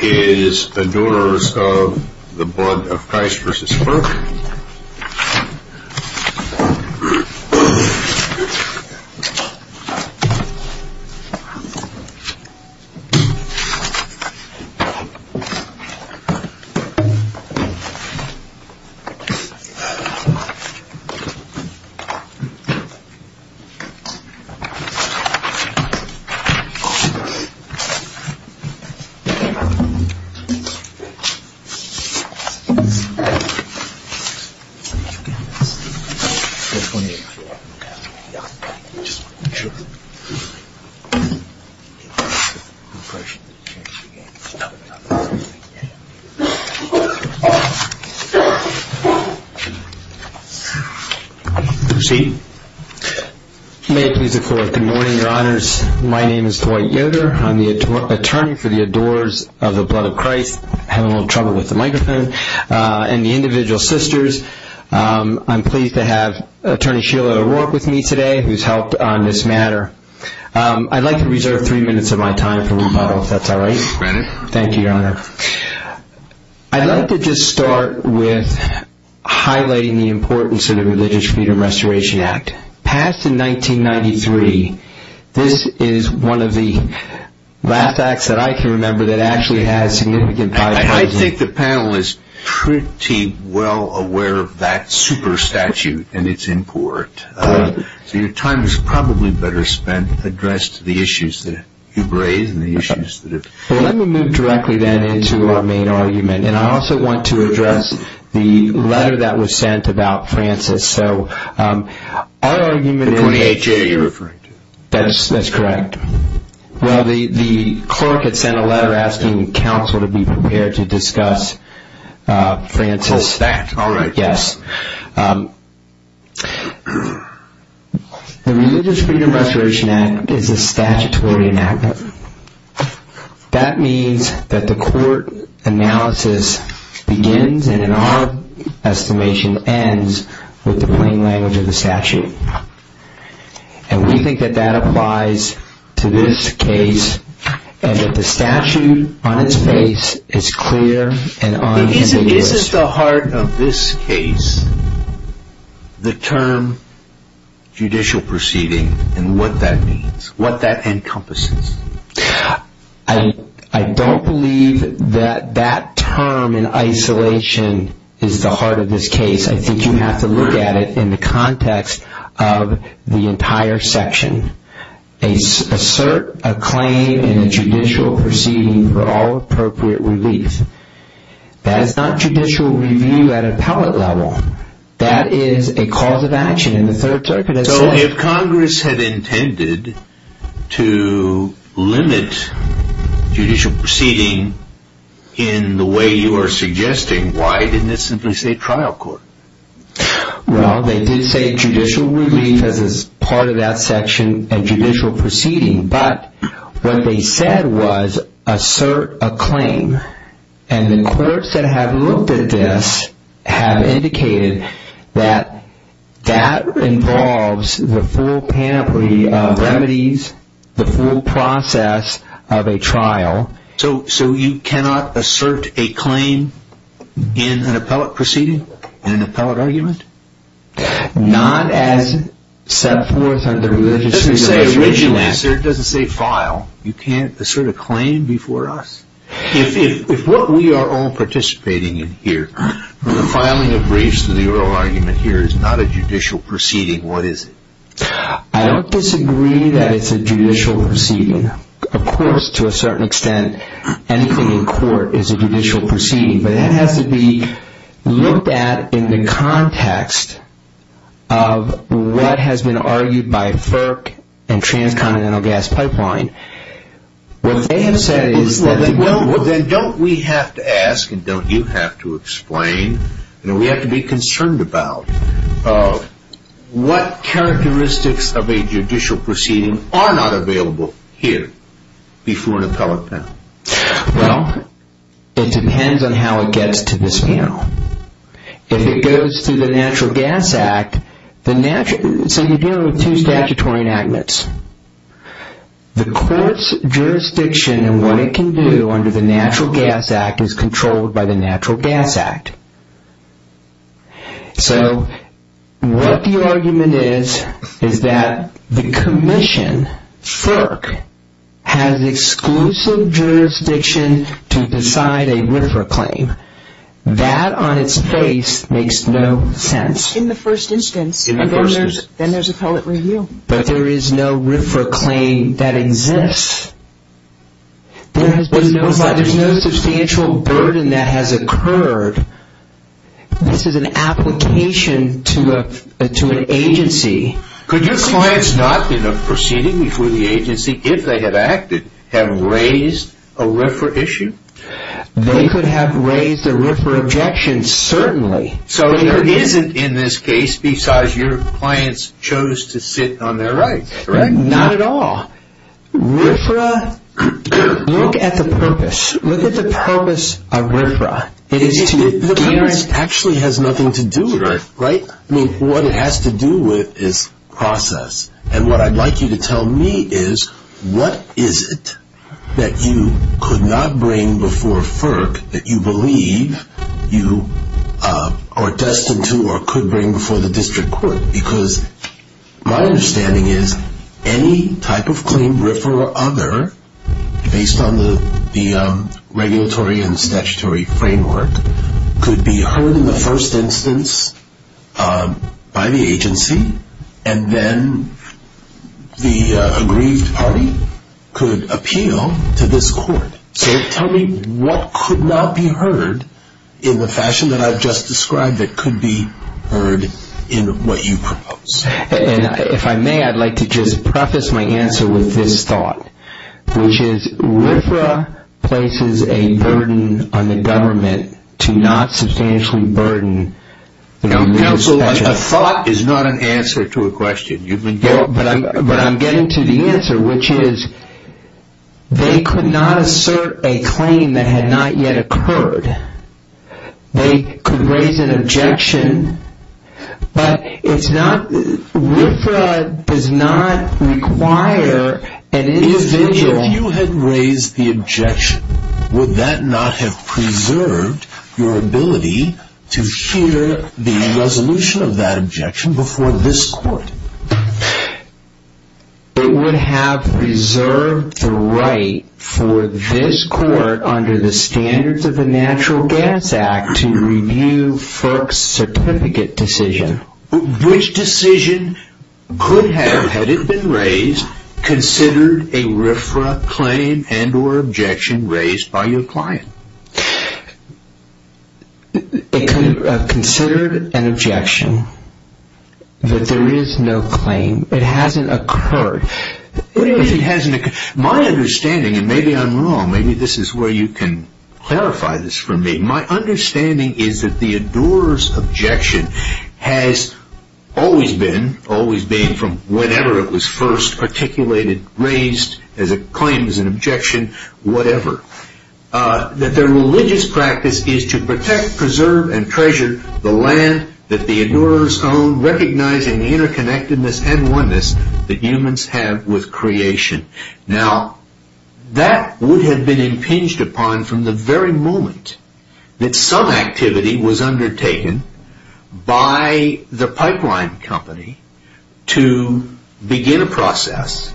is Adores of the Blood of Christ v. FERC. May it please the Lord, good morning, your honors. My name is Dwight Yoder. I'm the Adores of the Blood of Christ v. FERC. I'd like to reserve three minutes of my time for rebuttal. I'd like to start by highlighting the importance of the Religious Freedom Restoration Act, passed in 1993. This is one of the last acts that I can remember that actually has significant bipartisan support. I think the panel is pretty well aware of that super statute and its import. So your time is probably better spent to address the issues that you've raised. Let me move directly then into our main argument. I also want to address the letter that was sent to me by the clerk asking counsel to be prepared to discuss. The Religious Freedom Restoration Act is a statutory enactment. That means that the court analysis begins and in our estimation ends with the plain language of the statute. And we think that that applies to this case and that the statute on its face is clear and unambiguous. Is at the heart of this case the term judicial proceeding and what that means, what that section is the heart of this case. I think you have to look at it in the context of the entire section. Assert a claim in a judicial proceeding for all appropriate relief. That is not judicial review at appellate level. That is a cause of action in the third circuit. So if Congress had intended to limit judicial proceeding in the way you are suggesting, why didn't it simply say trial court? Well, they did say judicial relief as part of that section and judicial proceeding. But what they said was assert a claim. And the clerks that have looked at this have indicated that that involves the full panoply of remedies, the full process of a trial. So you cannot assert a claim in an appellate proceeding, in an appellate argument? Not as set forth under the Religious Freedom Restoration Act. It doesn't say file. You can't assert a claim before us? If what we are all participating in here, the filing of briefs to the oral argument here is not a judicial proceeding, what is it? I don't disagree that it's a judicial proceeding. Of course, to a certain extent, anything in court is a judicial proceeding. But that has to be looked at in the context of what has been argued by FERC and Transcontinental Gas Pipeline. Then don't we have to ask, and don't you have to explain, and we have to be concerned about, what characteristics of a judicial proceeding are not available here before an appellate panel? Well, it depends on how it gets to this panel. If it goes to the Natural Gas Act, so you deal with two statutory enactments. The court's jurisdiction and what it can do under the Natural Gas Act is controlled by the Natural Gas Act. So what the argument is, is that the Commission, FERC, has exclusive jurisdiction to decide a RFRA claim. That on its face makes no sense. In the first instance, then there's appellate review. But there is no RFRA claim that exists. There's no substantial burden that has occurred. This is an application to an agency. Could your clients not be in a proceeding before the agency, if they had acted, have raised a RFRA issue? They could have raised a RFRA objection, certainly. So there isn't, in this case, besides your clients chose to sit on their rights, correct? Not at all. RFRA, look at the purpose. Look at the purpose of RFRA. The purpose actually has nothing to do with it, right? I mean, what it has to do with is process. And what I'd like you to tell me is, what is it that you could not bring before FERC that you believe you are destined to or could bring before the district court? Because my understanding is, any type of claim, RFRA or other, based on the regulatory and statutory framework, could be heard in the first instance by the agency. And then the aggrieved party could appeal to this court. So tell me, what could not be heard in the fashion that I've just described that could be heard in what you propose? And if I may, I'd like to just preface my answer with this thought, which is, RFRA places a burden on the government to not substantially burden. Now, counsel, a thought is not an answer to a question. But I'm getting to the answer, which is, they could not assert a claim that had not yet occurred. They could raise an objection. But it's not, RFRA does not require an individual. If you had raised the objection, would that not have preserved your ability to hear the resolution of that objection before this court? It would have preserved the right for this court, under the standards of the Natural Gas Act, to review FERC's certificate decision. Which decision could have, had it been raised, considered a RFRA claim and or objection raised by your client? It could have considered an objection that there is no claim. It hasn't occurred. My understanding, and maybe I'm wrong, maybe this is where you can clarify this for me. My understanding is that the adorer's objection has always been, always being from whenever it was first articulated, raised as a claim, as an objection, whatever. That their religious practice is to protect, preserve, and treasure the land that the adorers own, recognizing the interconnectedness and oneness that humans have with creation. Now, that would have been impinged upon from the very moment that some activity was undertaken by the pipeline company to begin a process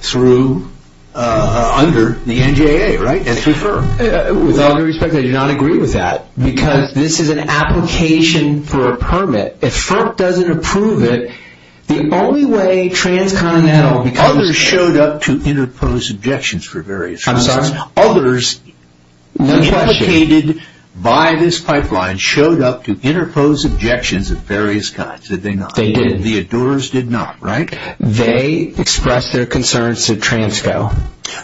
through, under the NGAA, right? And through FERC. With all due respect, I do not agree with that. Because this is an application for a permit. If FERC doesn't approve it, the only way transcontinental becomes... Others showed up to interpose objections for various reasons. I'm sorry? Others, implicated by this pipeline, showed up to interpose objections of various kinds, did they not? They did. The adorers did not, right? They expressed their concerns to Transco.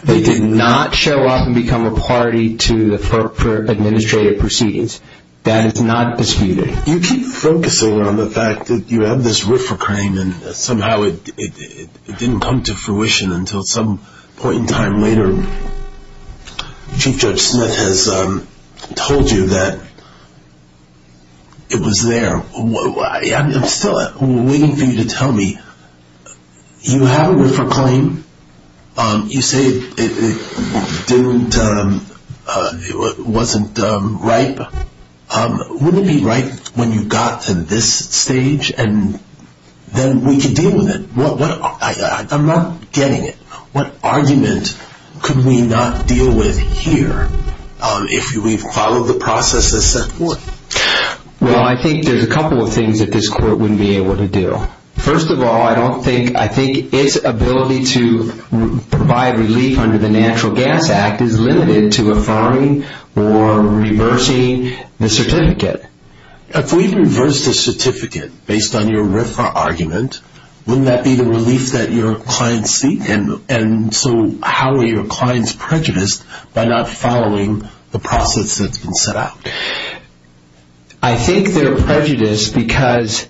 They did not show up and become a party to the FERC for administrative proceedings. That is not disputed. You keep focusing on the fact that you have this RIFRA claim and somehow it didn't come to fruition until some point in time later. Chief Judge Smith has told you that it was there. I'm still waiting for you to tell me. You have a RIFRA claim. You say it wasn't ripe. Wouldn't it be right when you got to this stage and then we could deal with it? I'm not getting it. What argument could we not deal with here if we followed the process as set forth? Well, I think there's a couple of things that this court wouldn't be able to do. First of all, I don't think... I think its ability to provide relief under the Natural Gas Act is limited to affirming or reversing the certificate. If we reversed the certificate based on your RIFRA argument, wouldn't that be the relief that your clients seek? And so how are your clients prejudiced by not following the process that's been set out? I think they're prejudiced because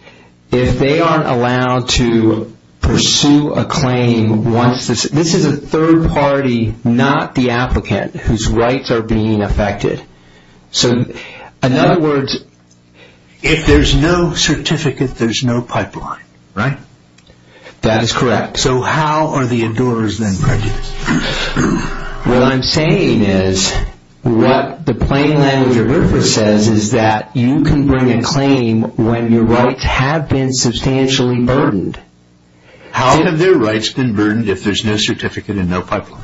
if they aren't allowed to pursue a claim once... This is a third party, not the applicant, whose rights are being affected. So, in other words... If there's no certificate, there's no pipeline, right? That is correct. So how are the endurers then prejudiced? What I'm saying is... What the plain language of RIFRA says is that you can bring a claim when your rights have been substantially burdened. How have their rights been burdened if there's no certificate and no pipeline?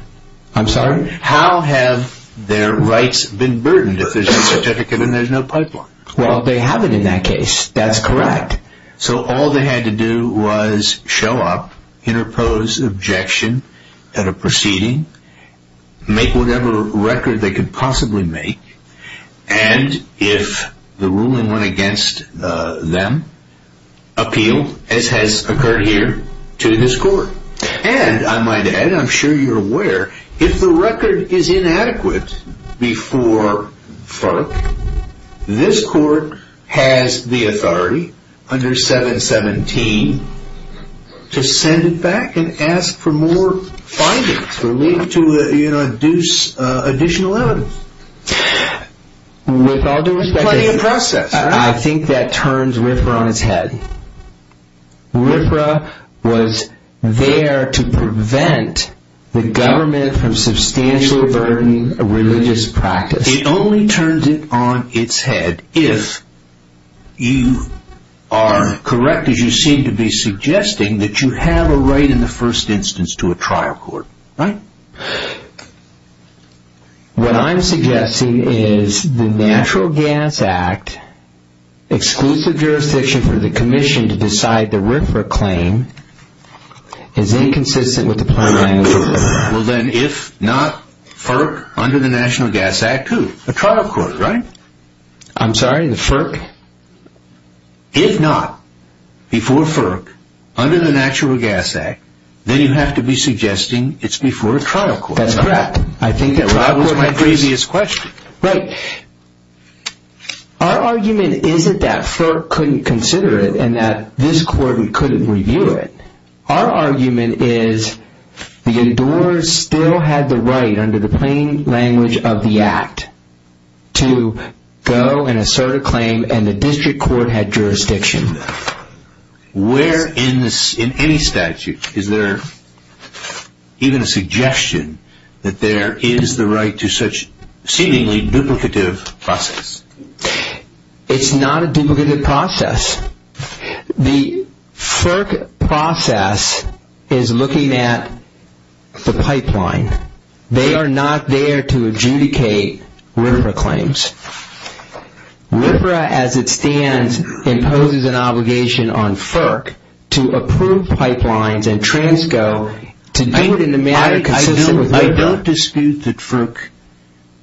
I'm sorry? How have their rights been burdened if there's no certificate and there's no pipeline? Well, they haven't in that case. That's correct. So all they had to do was show up, interpose objection at a proceeding, make whatever record they could possibly make... And if the ruling went against them, appeal, as has occurred here, to this court. And, I might add, I'm sure you're aware... If the record is inadequate before FERC, this court has the authority, under 717, to send it back and ask for more findings to induce additional evidence. With all due respect... Plenty of process. I think that turns RIFRA on its head. RIFRA was there to prevent the government from substantially burdening a religious practice. It only turns it on its head if you are correct as you seem to be suggesting that you have a right in the first instance to a trial court. Right? What I'm suggesting is the Natural Gas Act, exclusive jurisdiction for the Commission to decide the RIFRA claim, is inconsistent with the plan... Well, then, if not FERC, under the Natural Gas Act, who? A trial court, right? I'm sorry? The FERC? If not, before FERC, under the Natural Gas Act, then you have to be suggesting it's before a trial court. That's correct. I think that trial court might be... That was my craziest question. Right. Our argument isn't that FERC couldn't consider it and that this court couldn't review it. Our argument is the adorers still had the right, under the plain language of the Act, to go and assert a claim and the district court had jurisdiction. Where in any statute is there even a suggestion that there is the right to such seemingly duplicative process? It's not a duplicative process. The FERC process is looking at the pipeline. They are not there to adjudicate RIFRA claims. RIFRA, as it stands, imposes an obligation on FERC to approve pipelines and transco to do it in the manner consistent with RIFRA. I don't dispute that FERC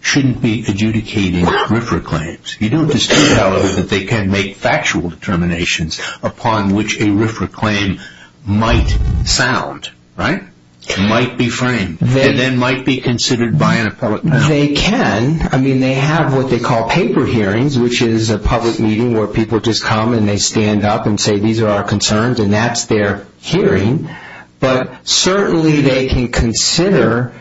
shouldn't be adjudicating RIFRA claims. You don't dispute, however, that they can make factual determinations upon which a RIFRA claim might sound, right? It might be framed. It then might be considered by an appellate panel. They can. I mean, they have what they call paper hearings, which is a public meeting where people just come and they stand up and say, these are our concerns and that's their hearing. But certainly they can consider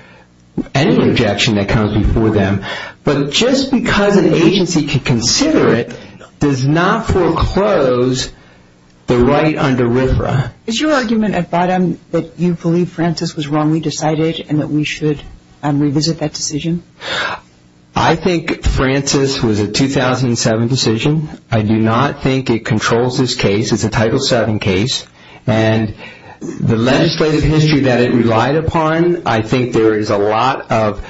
any objection that comes before them. But just because an agency can consider it does not foreclose the right under RIFRA. Is your argument at bottom that you believe Francis was wrongly decided and that we should revisit that decision? I think Francis was a 2007 decision. I do not think it controls this case. It's a Title VII case. And the legislative history that it relied upon, I think there is a lot of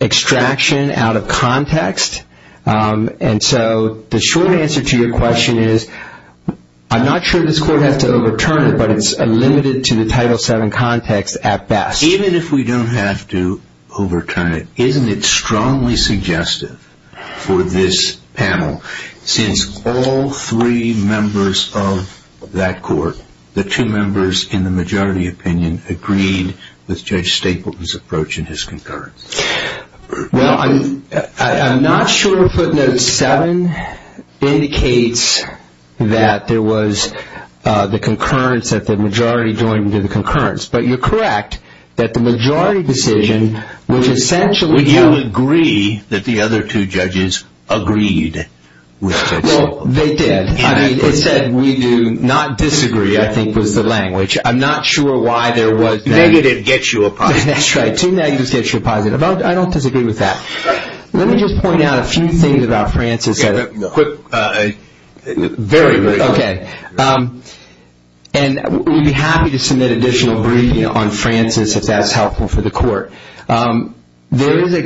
extraction out of context. And so the short answer to your question is I'm not sure this Court has to overturn it, but it's limited to the Title VII context at best. Even if we don't have to overturn it, isn't it strongly suggestive for this panel, since all three members of that Court, the two members in the majority opinion, agreed with Judge Stapleton's approach in his concurrence? Well, I'm not sure Footnote VII indicates that there was the concurrence, that the majority joined into the concurrence. But you're correct that the majority decision, which essentially held that the other two judges agreed with Judge Stapleton. Well, they did. It said we do not disagree, I think was the language. I'm not sure why there was that. Negative gets you a positive. That's right. Two negatives get you a positive. I don't disagree with that. Let me just point out a few things about Francis. Very briefly. Okay. And we'd be happy to submit additional briefing on Francis if that's helpful for the Court. There is a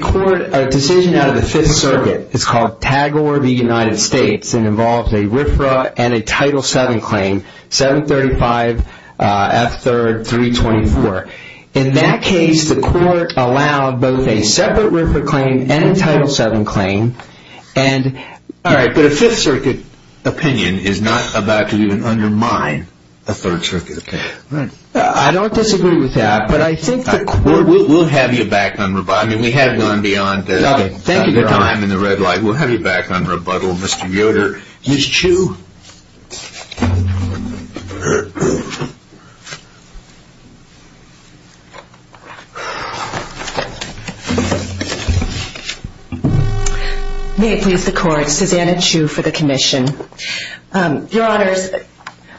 decision out of the Fifth Circuit. It's called Tagore v. United States and involves a RFRA and a Title VII claim, 735F3-324. In that case, the Court allowed both a separate RFRA claim and a Title VII claim. All right, but a Fifth Circuit opinion is not about to even undermine a Third Circuit opinion. I don't disagree with that. We'll have you back on rebuttal. We have gone beyond your time in the red light. We'll have you back on rebuttal, Mr. Yoder. Ms. Chu. May it please the Court, Susanna Chu for the Commission. Your Honors,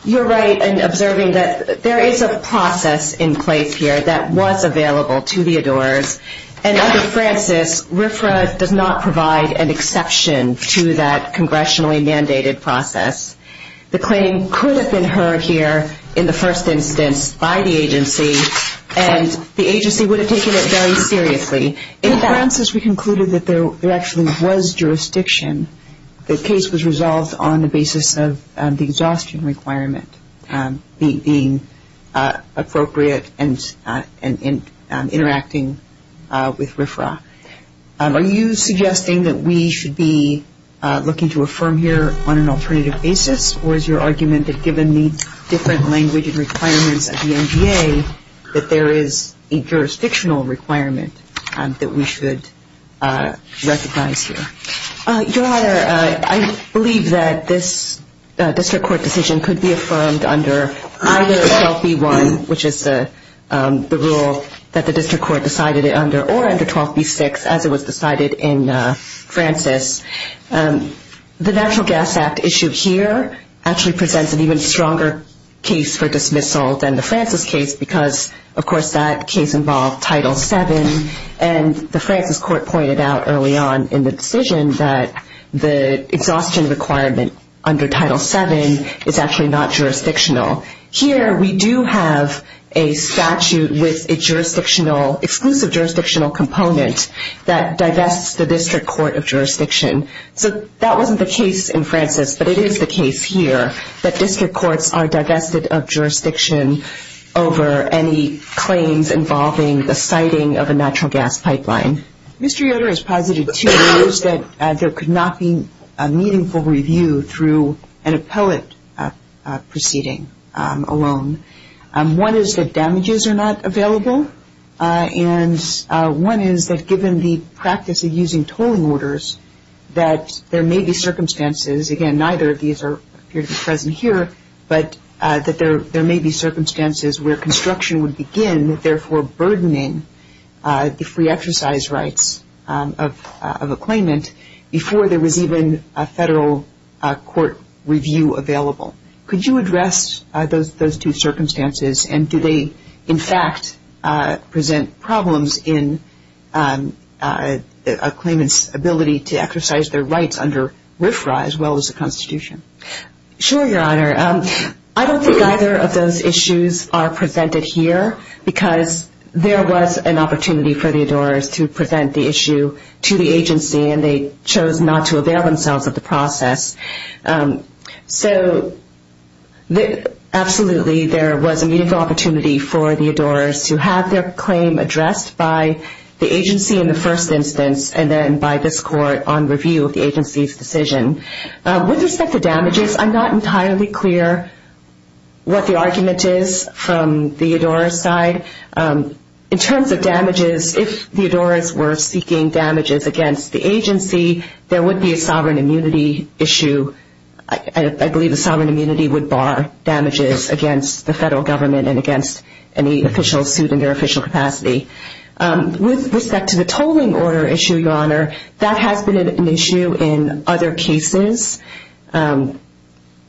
you're right in observing that there is a process in place here that was available to the adorers, and under Francis, RFRA does not provide an exception to that congressionally mandated process. The claim could have been heard here in the first instance by the agency, and the agency would have taken it very seriously. In Francis, we concluded that there actually was jurisdiction. The case was resolved on the basis of the exhaustion requirement being appropriate and interacting with RFRA. Are you suggesting that we should be looking to affirm here on an alternative basis, or is your argument that given the different language and requirements at the NGA, that there is a jurisdictional requirement that we should recognize here? Your Honor, I believe that this district court decision could be affirmed under either 12b-1, which is the rule that the district court decided it under, or under 12b-6 as it was decided in Francis. The Natural Gas Act issue here actually presents an even stronger case for dismissal than the Francis case because, of course, that case involved Title VII, and the Francis court pointed out early on in the decision that the exhaustion requirement under Title VII is actually not jurisdictional. Here we do have a statute with a exclusive jurisdictional component that divests the district court of jurisdiction. So that wasn't the case in Francis, but it is the case here, that district courts are divested of jurisdiction over any claims involving the siting of a natural gas pipeline. Mr. Yoder has posited two views that there could not be a meaningful review through an appellate proceeding alone. One is that damages are not available, and one is that given the practice of using tolling orders, that there may be circumstances, again, neither of these appear to be present here, but that there may be circumstances where construction would begin, therefore burdening the free exercise rights of a claimant before there was even a federal court review available. Could you address those two circumstances, and do they in fact present problems in a claimant's ability to exercise their rights under RFRA as well as the Constitution? Sure, Your Honor. I don't think either of those issues are presented here, because there was an opportunity for the adorers to present the issue to the agency, and they chose not to avail themselves of the process. So absolutely, there was a meaningful opportunity for the adorers to have their claim addressed by the agency in the first instance and then by this court on review of the agency's decision. With respect to damages, I'm not entirely clear what the argument is from the adorers' side. In terms of damages, if the adorers were seeking damages against the agency, there would be a sovereign immunity issue. I believe the sovereign immunity would bar damages against the federal government and against any official suit in their official capacity. With respect to the tolling order issue, Your Honor, that has been an issue in other cases. In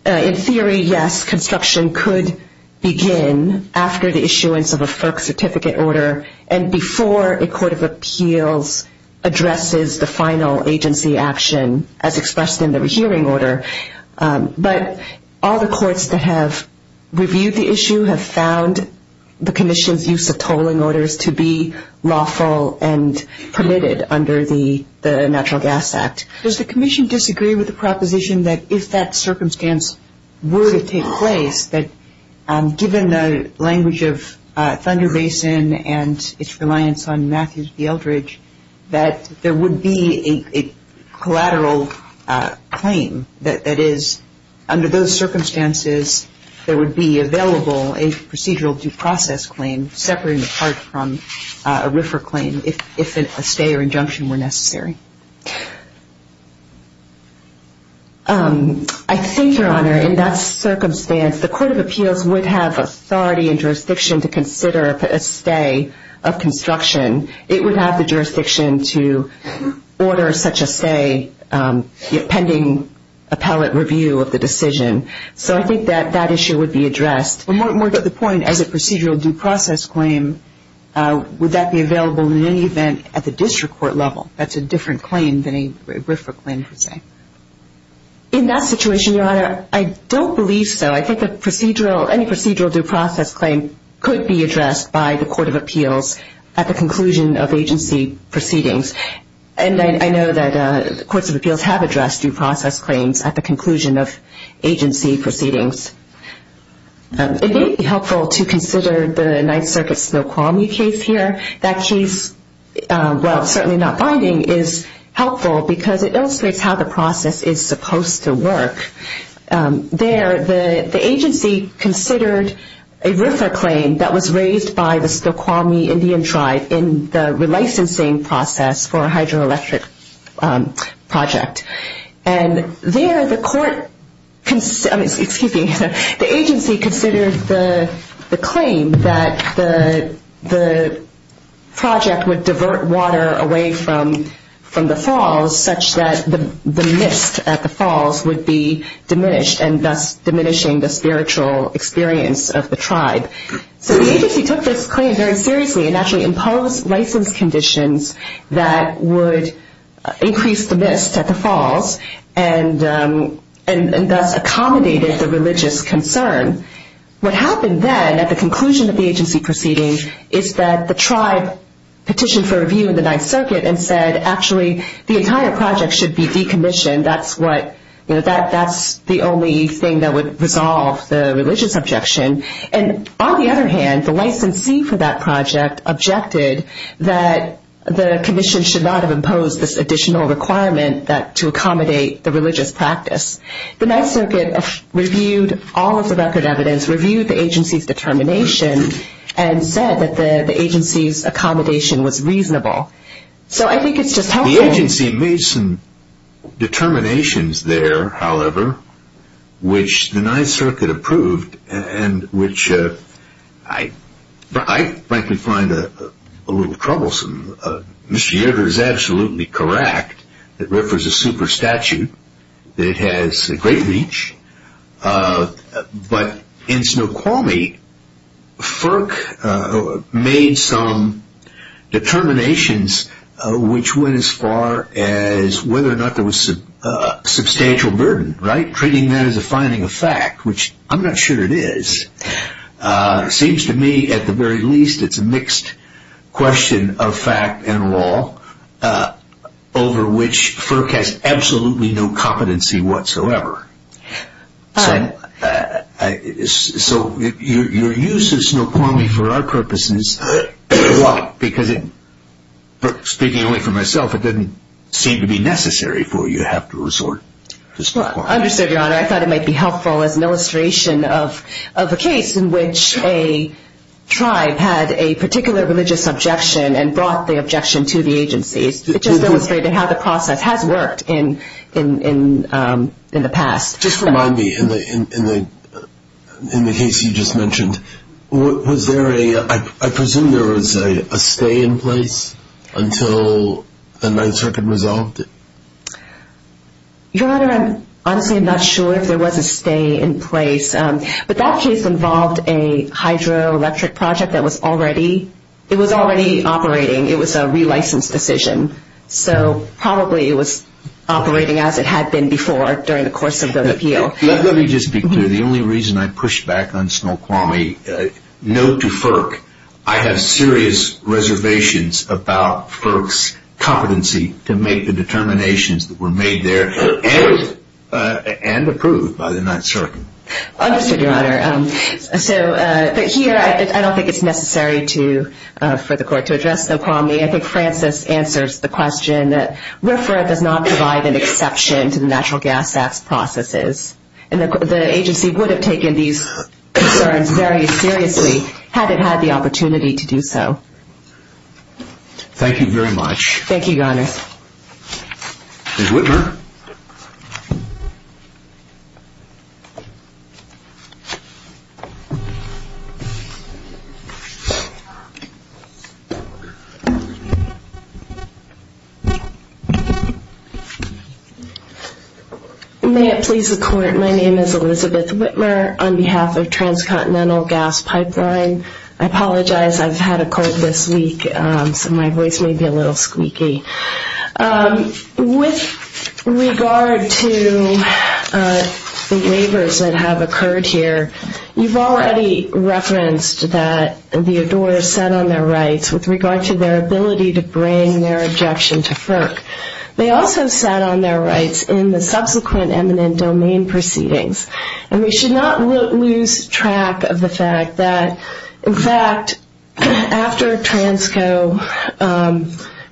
theory, yes, construction could begin after the issuance of a FERC certificate order and before a court of appeals addresses the final agency action as expressed in the hearing order. But all the courts that have reviewed the issue have found the commission's use of tolling orders to be lawful and permitted under the Natural Gas Act. Does the commission disagree with the proposition that if that circumstance were to take place, that given the language of Thunder Basin and its reliance on Matthews v. Eldridge, that there would be a collateral claim, that is, under those circumstances, there would be available a procedural due process claim separating the part from a RFRA claim if a stay or injunction were necessary? I think, Your Honor, in that circumstance, the court of appeals would have authority and jurisdiction to consider a stay of construction. It would have the jurisdiction to order such a stay pending appellate review of the decision. So I think that that issue would be addressed. More to the point, as a procedural due process claim, would that be available in any event at the district court level? That's a different claim than a RFRA claim, per se. In that situation, Your Honor, I don't believe so. I think any procedural due process claim could be addressed by the court of appeals at the conclusion of agency proceedings. And I know that the courts of appeals have addressed due process claims at the conclusion of agency proceedings. It may be helpful to consider the Ninth Circuit Snoqualmie case here. That case, while certainly not binding, is helpful because it illustrates how the process is supposed to work. There, the agency considered a RFRA claim that was raised by the Snoqualmie Indian Tribe in the relicensing process for a hydroelectric project. And there, the agency considered the claim that the project would divert water away from the falls such that the mist at the falls would be diminished and thus diminishing the spiritual experience of the tribe. So the agency took this claim very seriously and actually imposed license conditions that would increase the mist at the falls and thus accommodated the religious concern. What happened then at the conclusion of the agency proceedings is that the tribe petitioned for review in the Ninth Circuit and said actually the entire project should be decommissioned. That's the only thing that would resolve the religious objection. And on the other hand, the licensee for that project objected that the commission should not have imposed this additional requirement to accommodate the religious practice. The Ninth Circuit reviewed all of the record evidence, reviewed the agency's determination, and said that the agency's accommodation was reasonable. So I think it's just helpful. The agency made some determinations there, however, which the Ninth Circuit approved, and which I frankly find a little troublesome. Mr. Yeutter is absolutely correct. It refers to super statute. It has a great reach. But in Snoqualmie, FERC made some determinations which went as far as whether or not there was substantial burden. Treating that as a finding of fact, which I'm not sure it is, seems to me at the very least it's a mixed question of fact and law over which FERC has absolutely no competency whatsoever. So your use of Snoqualmie for our purposes, because speaking only for myself, it didn't seem to be necessary for you to have to resort to Snoqualmie. I understood, Your Honor. I thought it might be helpful as an illustration of a case in which a tribe had a particular religious objection and brought the objection to the agency. It just illustrated how the process has worked in the past. Just remind me, in the case you just mentioned, was there a, I presume there was a stay in place until the 9th Circuit resolved it? Your Honor, I'm honestly not sure if there was a stay in place. But that case involved a hydroelectric project that was already operating. It was a relicensed decision. So probably it was operating as it had been before during the course of the appeal. Let me just be clear. The only reason I pushed back on Snoqualmie, note to FERC, I have serious reservations about FERC's competency to make the determinations that were made there and approved by the 9th Circuit. Understood, Your Honor. But here I don't think it's necessary for the Court to address Snoqualmie. I think Francis answers the question that RFRA does not provide an exception to the Natural Gas Act's processes. And the agency would have taken these concerns very seriously had it had the opportunity to do so. Thank you very much. Thank you, Your Honor. Ms. Whitmer? May it please the Court, my name is Elizabeth Whitmer. On behalf of Transcontinental Gas Pipeline, I apologize. I've had a court this week, so my voice may be a little squeaky. With regard to the waivers that have occurred here, you've already referenced that the adorers sat on their rights with regard to their ability to bring their objection to FERC. They also sat on their rights in the subsequent eminent domain proceedings. And we should not lose track of the fact that, in fact, after Transco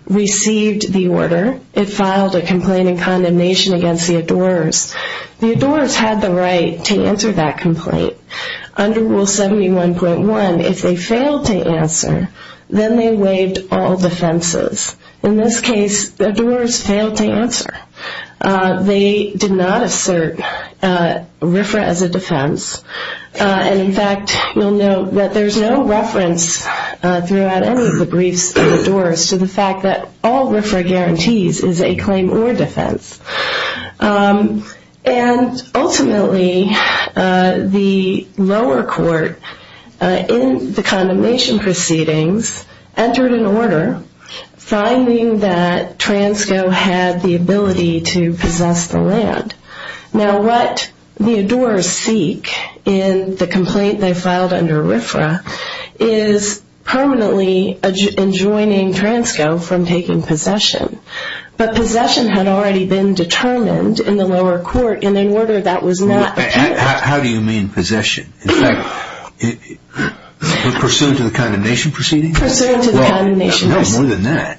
received the order, it filed a complaint in condemnation against the adorers. The adorers had the right to answer that complaint. Under Rule 71.1, if they failed to answer, then they waived all defenses. In this case, the adorers failed to answer. They did not assert RFRA as a defense. And, in fact, you'll note that there's no reference throughout any of the briefs of adorers to the fact that all RFRA guarantees is a claim or defense. And, ultimately, the lower court, in the condemnation proceedings, entered an order finding that Transco had the ability to possess the land. Now, what the adorers seek in the complaint they filed under RFRA is permanently enjoining Transco from taking possession. But possession had already been determined in the lower court in an order that was not appealed. How do you mean possession? In fact, pursuant to the condemnation proceedings? Pursuant to the condemnation proceedings. No, more than that.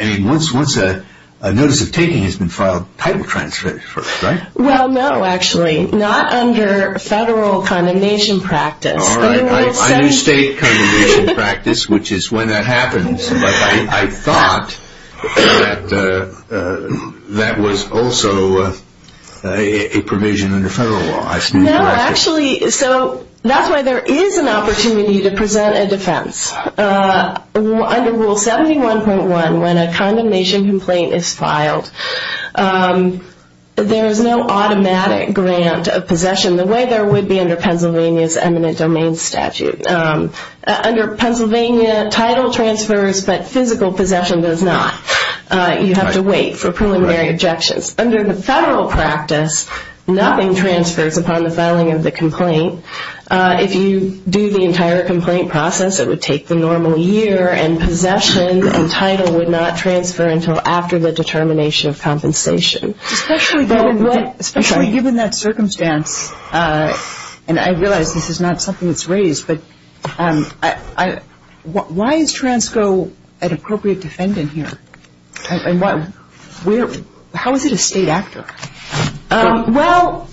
I mean, once a notice of taking has been filed, title transfer is first, right? Well, no, actually. Not under federal condemnation practice. All right. Under state condemnation practice, which is when that happens. I thought that that was also a provision in the federal law. No, actually. So that's why there is an opportunity to present a defense. Under Rule 71.1, when a condemnation complaint is filed, there is no automatic grant of possession the way there would be under Pennsylvania's eminent domain statute. Under Pennsylvania, title transfers, but physical possession does not. You have to wait for preliminary objections. Under the federal practice, nothing transfers upon the filing of the complaint. If you do the entire complaint process, it would take the normal year, and possession and title would not transfer until after the determination of compensation. Especially given that circumstance, and I realize this is not something that's raised, but why is TRANSCO an appropriate defendant here? How is it a state actor? Well,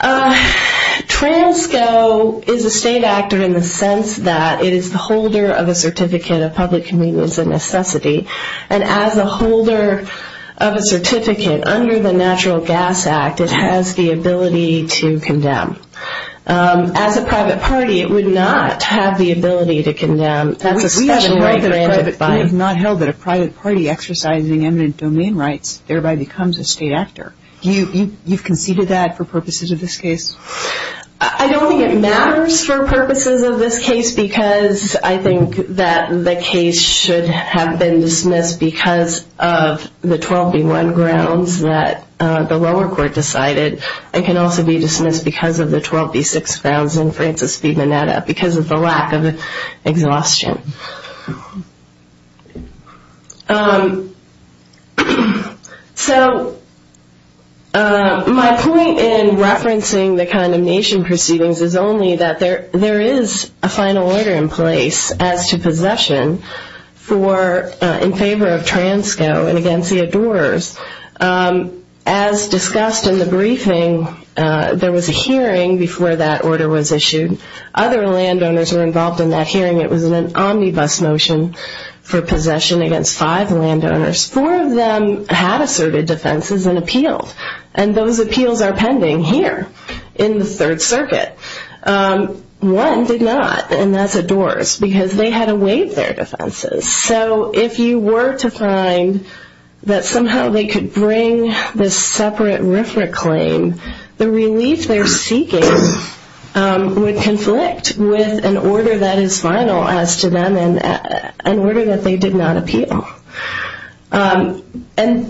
TRANSCO is a state actor in the sense that it is the holder of a certificate of public convenience and necessity. And as a holder of a certificate under the Natural Gas Act, it has the ability to condemn. As a private party, it would not have the ability to condemn. We have not held that a private party exercising eminent domain rights thereby becomes a state actor. You've conceded that for purposes of this case? I don't think it matters for purposes of this case, because I think that the case should have been dismissed because of the 12B1 grounds that the lower court decided. It can also be dismissed because of the 12B6 grounds in Francis B. Mineta, because of the lack of exhaustion. So my point in referencing the condemnation proceedings is only that there is a final order in place as to possession in favor of TRANSCO and against the adorers. As discussed in the briefing, there was a hearing before that order was issued. Other landowners were involved in that hearing. It was an omnibus motion for possession against five landowners. Four of them had asserted defenses and appealed. And those appeals are pending here in the Third Circuit. One did not, and that's adorers, because they had to waive their defenses. So if you were to find that somehow they could bring this separate RFRA claim, the relief they're seeking would conflict with an order that is final as to them and an order that they did not appeal. And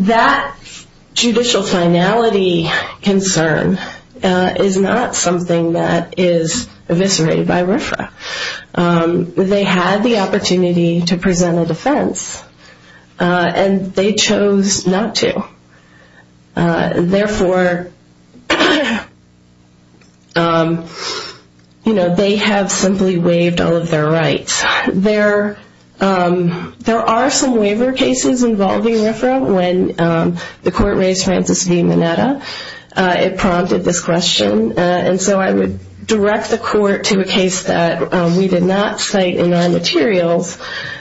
that judicial finality concern is not something that is eviscerated by RFRA. They had the opportunity to present a defense, and they chose not to. Therefore, you know, they have simply waived all of their rights. There are some waiver cases involving RFRA when the court raised Francis B. Mineta. It prompted this question. And so I would direct the court to a case that we did not cite in our materials,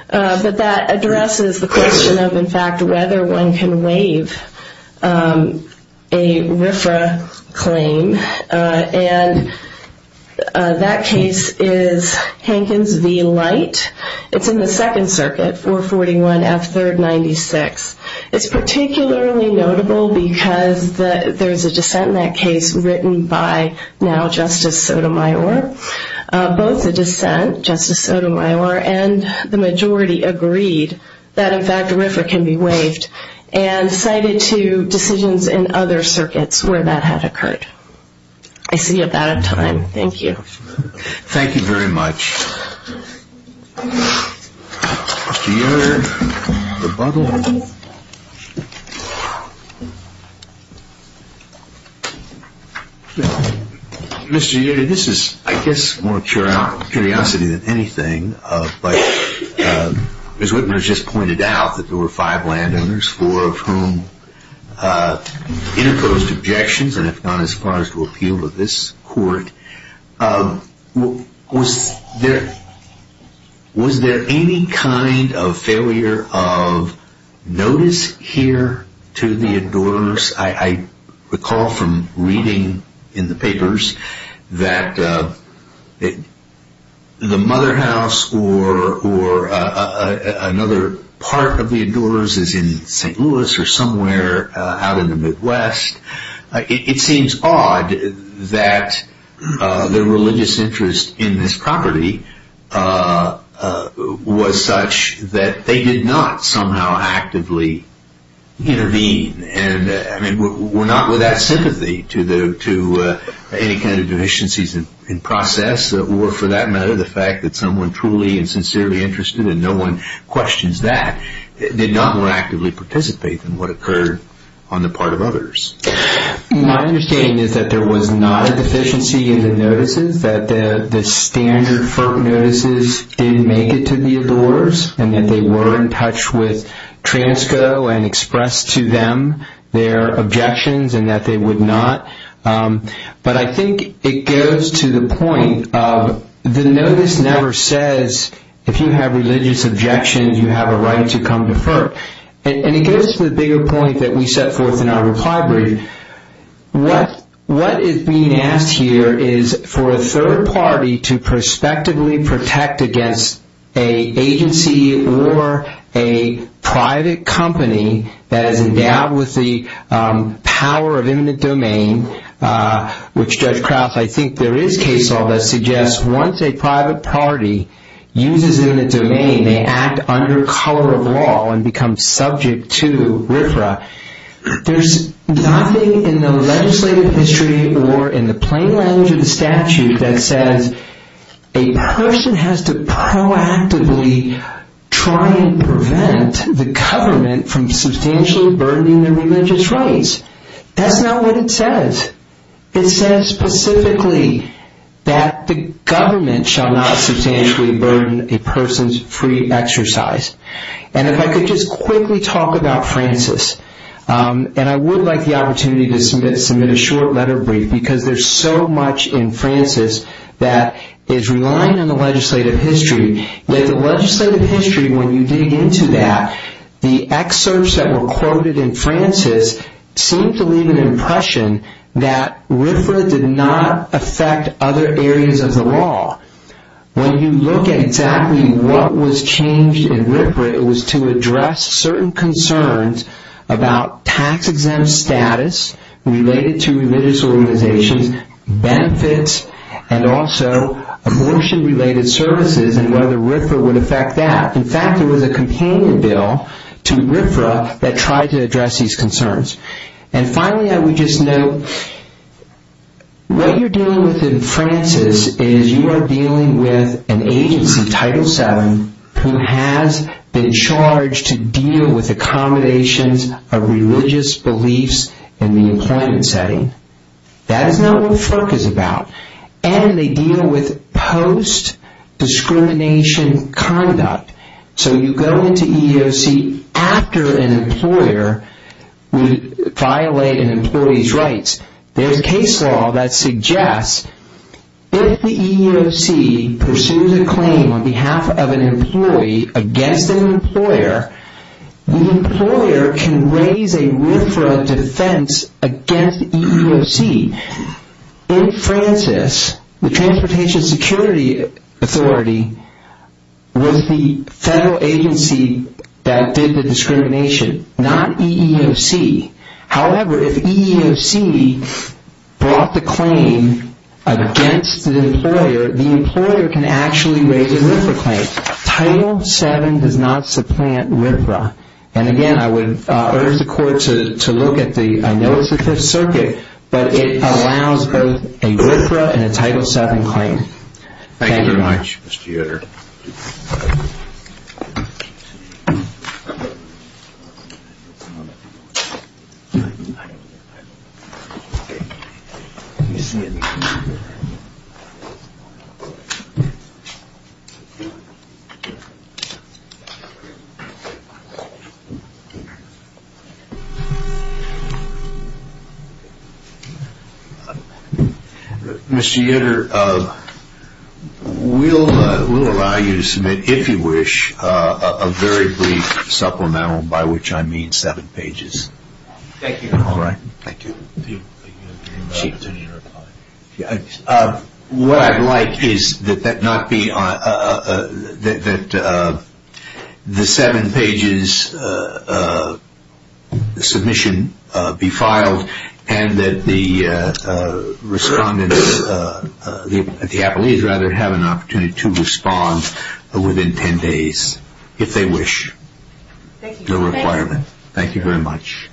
but that addresses the question of, in fact, whether one can waive a RFRA claim. And that case is Hankins v. Light. It's in the Second Circuit, 441 F. 3rd, 96. It's particularly notable because there's a dissent in that case written by now Justice Sotomayor. Both the dissent, Justice Sotomayor and the majority agreed that, in fact, RFRA can be waived and cited to decisions in other circuits where that had occurred. I see you're about out of time. Thank you. Thank you very much. Mr. Yoder, rebuttal. Mr. Yoder, this is, I guess, more curiosity than anything, but Ms. Whitmer has just pointed out that there were five landowners, four of whom interposed objections and have gone as far as to appeal to this court. Was there any kind of failure of notice here to the adorers? I recall from reading in the papers that the mother house or another part of the adorers is in St. Louis or somewhere out in the Midwest. It seems odd that the religious interest in this property was such that they did not somehow actively intervene. And, I mean, we're not without sympathy to any kind of deficiencies in process or for that matter the fact that someone truly and sincerely interested, and no one questions that, did not more actively participate than what occurred on the part of others. My understanding is that there was not a deficiency in the notices, that the standard FERC notices didn't make it to the adorers and that they were in touch with Transco and expressed to them their objections and that they would not. But I think it goes to the point of the notice never says, if you have religious objections, you have a right to come to FERC. And it goes to the bigger point that we set forth in our reply brief. What is being asked here is for a third party to prospectively protect against a agency or a private company that is endowed with the power of eminent domain, which Judge Krauss, I think there is case law that suggests once a private party uses it in a domain, they act under color of law and become subject to RFRA. There's nothing in the legislative history or in the plain language of the statute that says a person has to proactively try and prevent the government from substantially burdening their religious rights. That's not what it says. It says specifically that the government shall not substantially burden a person's free exercise. And if I could just quickly talk about Francis. And I would like the opportunity to submit a short letter brief because there's so much in Francis that is relying on the legislative history. The legislative history, when you dig into that, the excerpts that were quoted in Francis seem to leave an impression that RFRA did not affect other areas of the law. When you look at exactly what was changed in RFRA, it was to address certain concerns about tax-exempt status related to religious organizations, benefits, and also abortion-related services and whether RFRA would affect that. In fact, there was a companion bill to RFRA that tried to address these concerns. And finally, I would just note, what you're dealing with in Francis is you are dealing with an agency, Title VII, who has been charged to deal with accommodations of religious beliefs in the employment setting. That is not what FERC is about. And they deal with post-discrimination conduct. So you go into EEOC after an employer would violate an employee's rights. There's a case law that suggests if the EEOC pursues a claim on behalf of an employee against an employer, the employer can raise a RFRA defense against the EEOC. In Francis, the Transportation Security Authority was the federal agency that did the discrimination, not EEOC. However, if EEOC brought the claim against the employer, the employer can actually raise a RFRA claim. Title VII does not supplant RFRA. And again, I would urge the court to look at the, I know it's the Fifth Circuit, but it allows both a RFRA and a Title VII claim. Thank you very much, Mr. Yoder. Mr. Yoder, we'll allow you to submit, if you wish, a very brief supplemental, by which I mean seven pages. Thank you. All right. Thank you. Do you have an opportunity to reply? What I'd like is that the seven pages submission be filed and that the respondents, the appellees rather, have an opportunity to respond within ten days, if they wish. Thank you. That is our requirement. Thank you very much.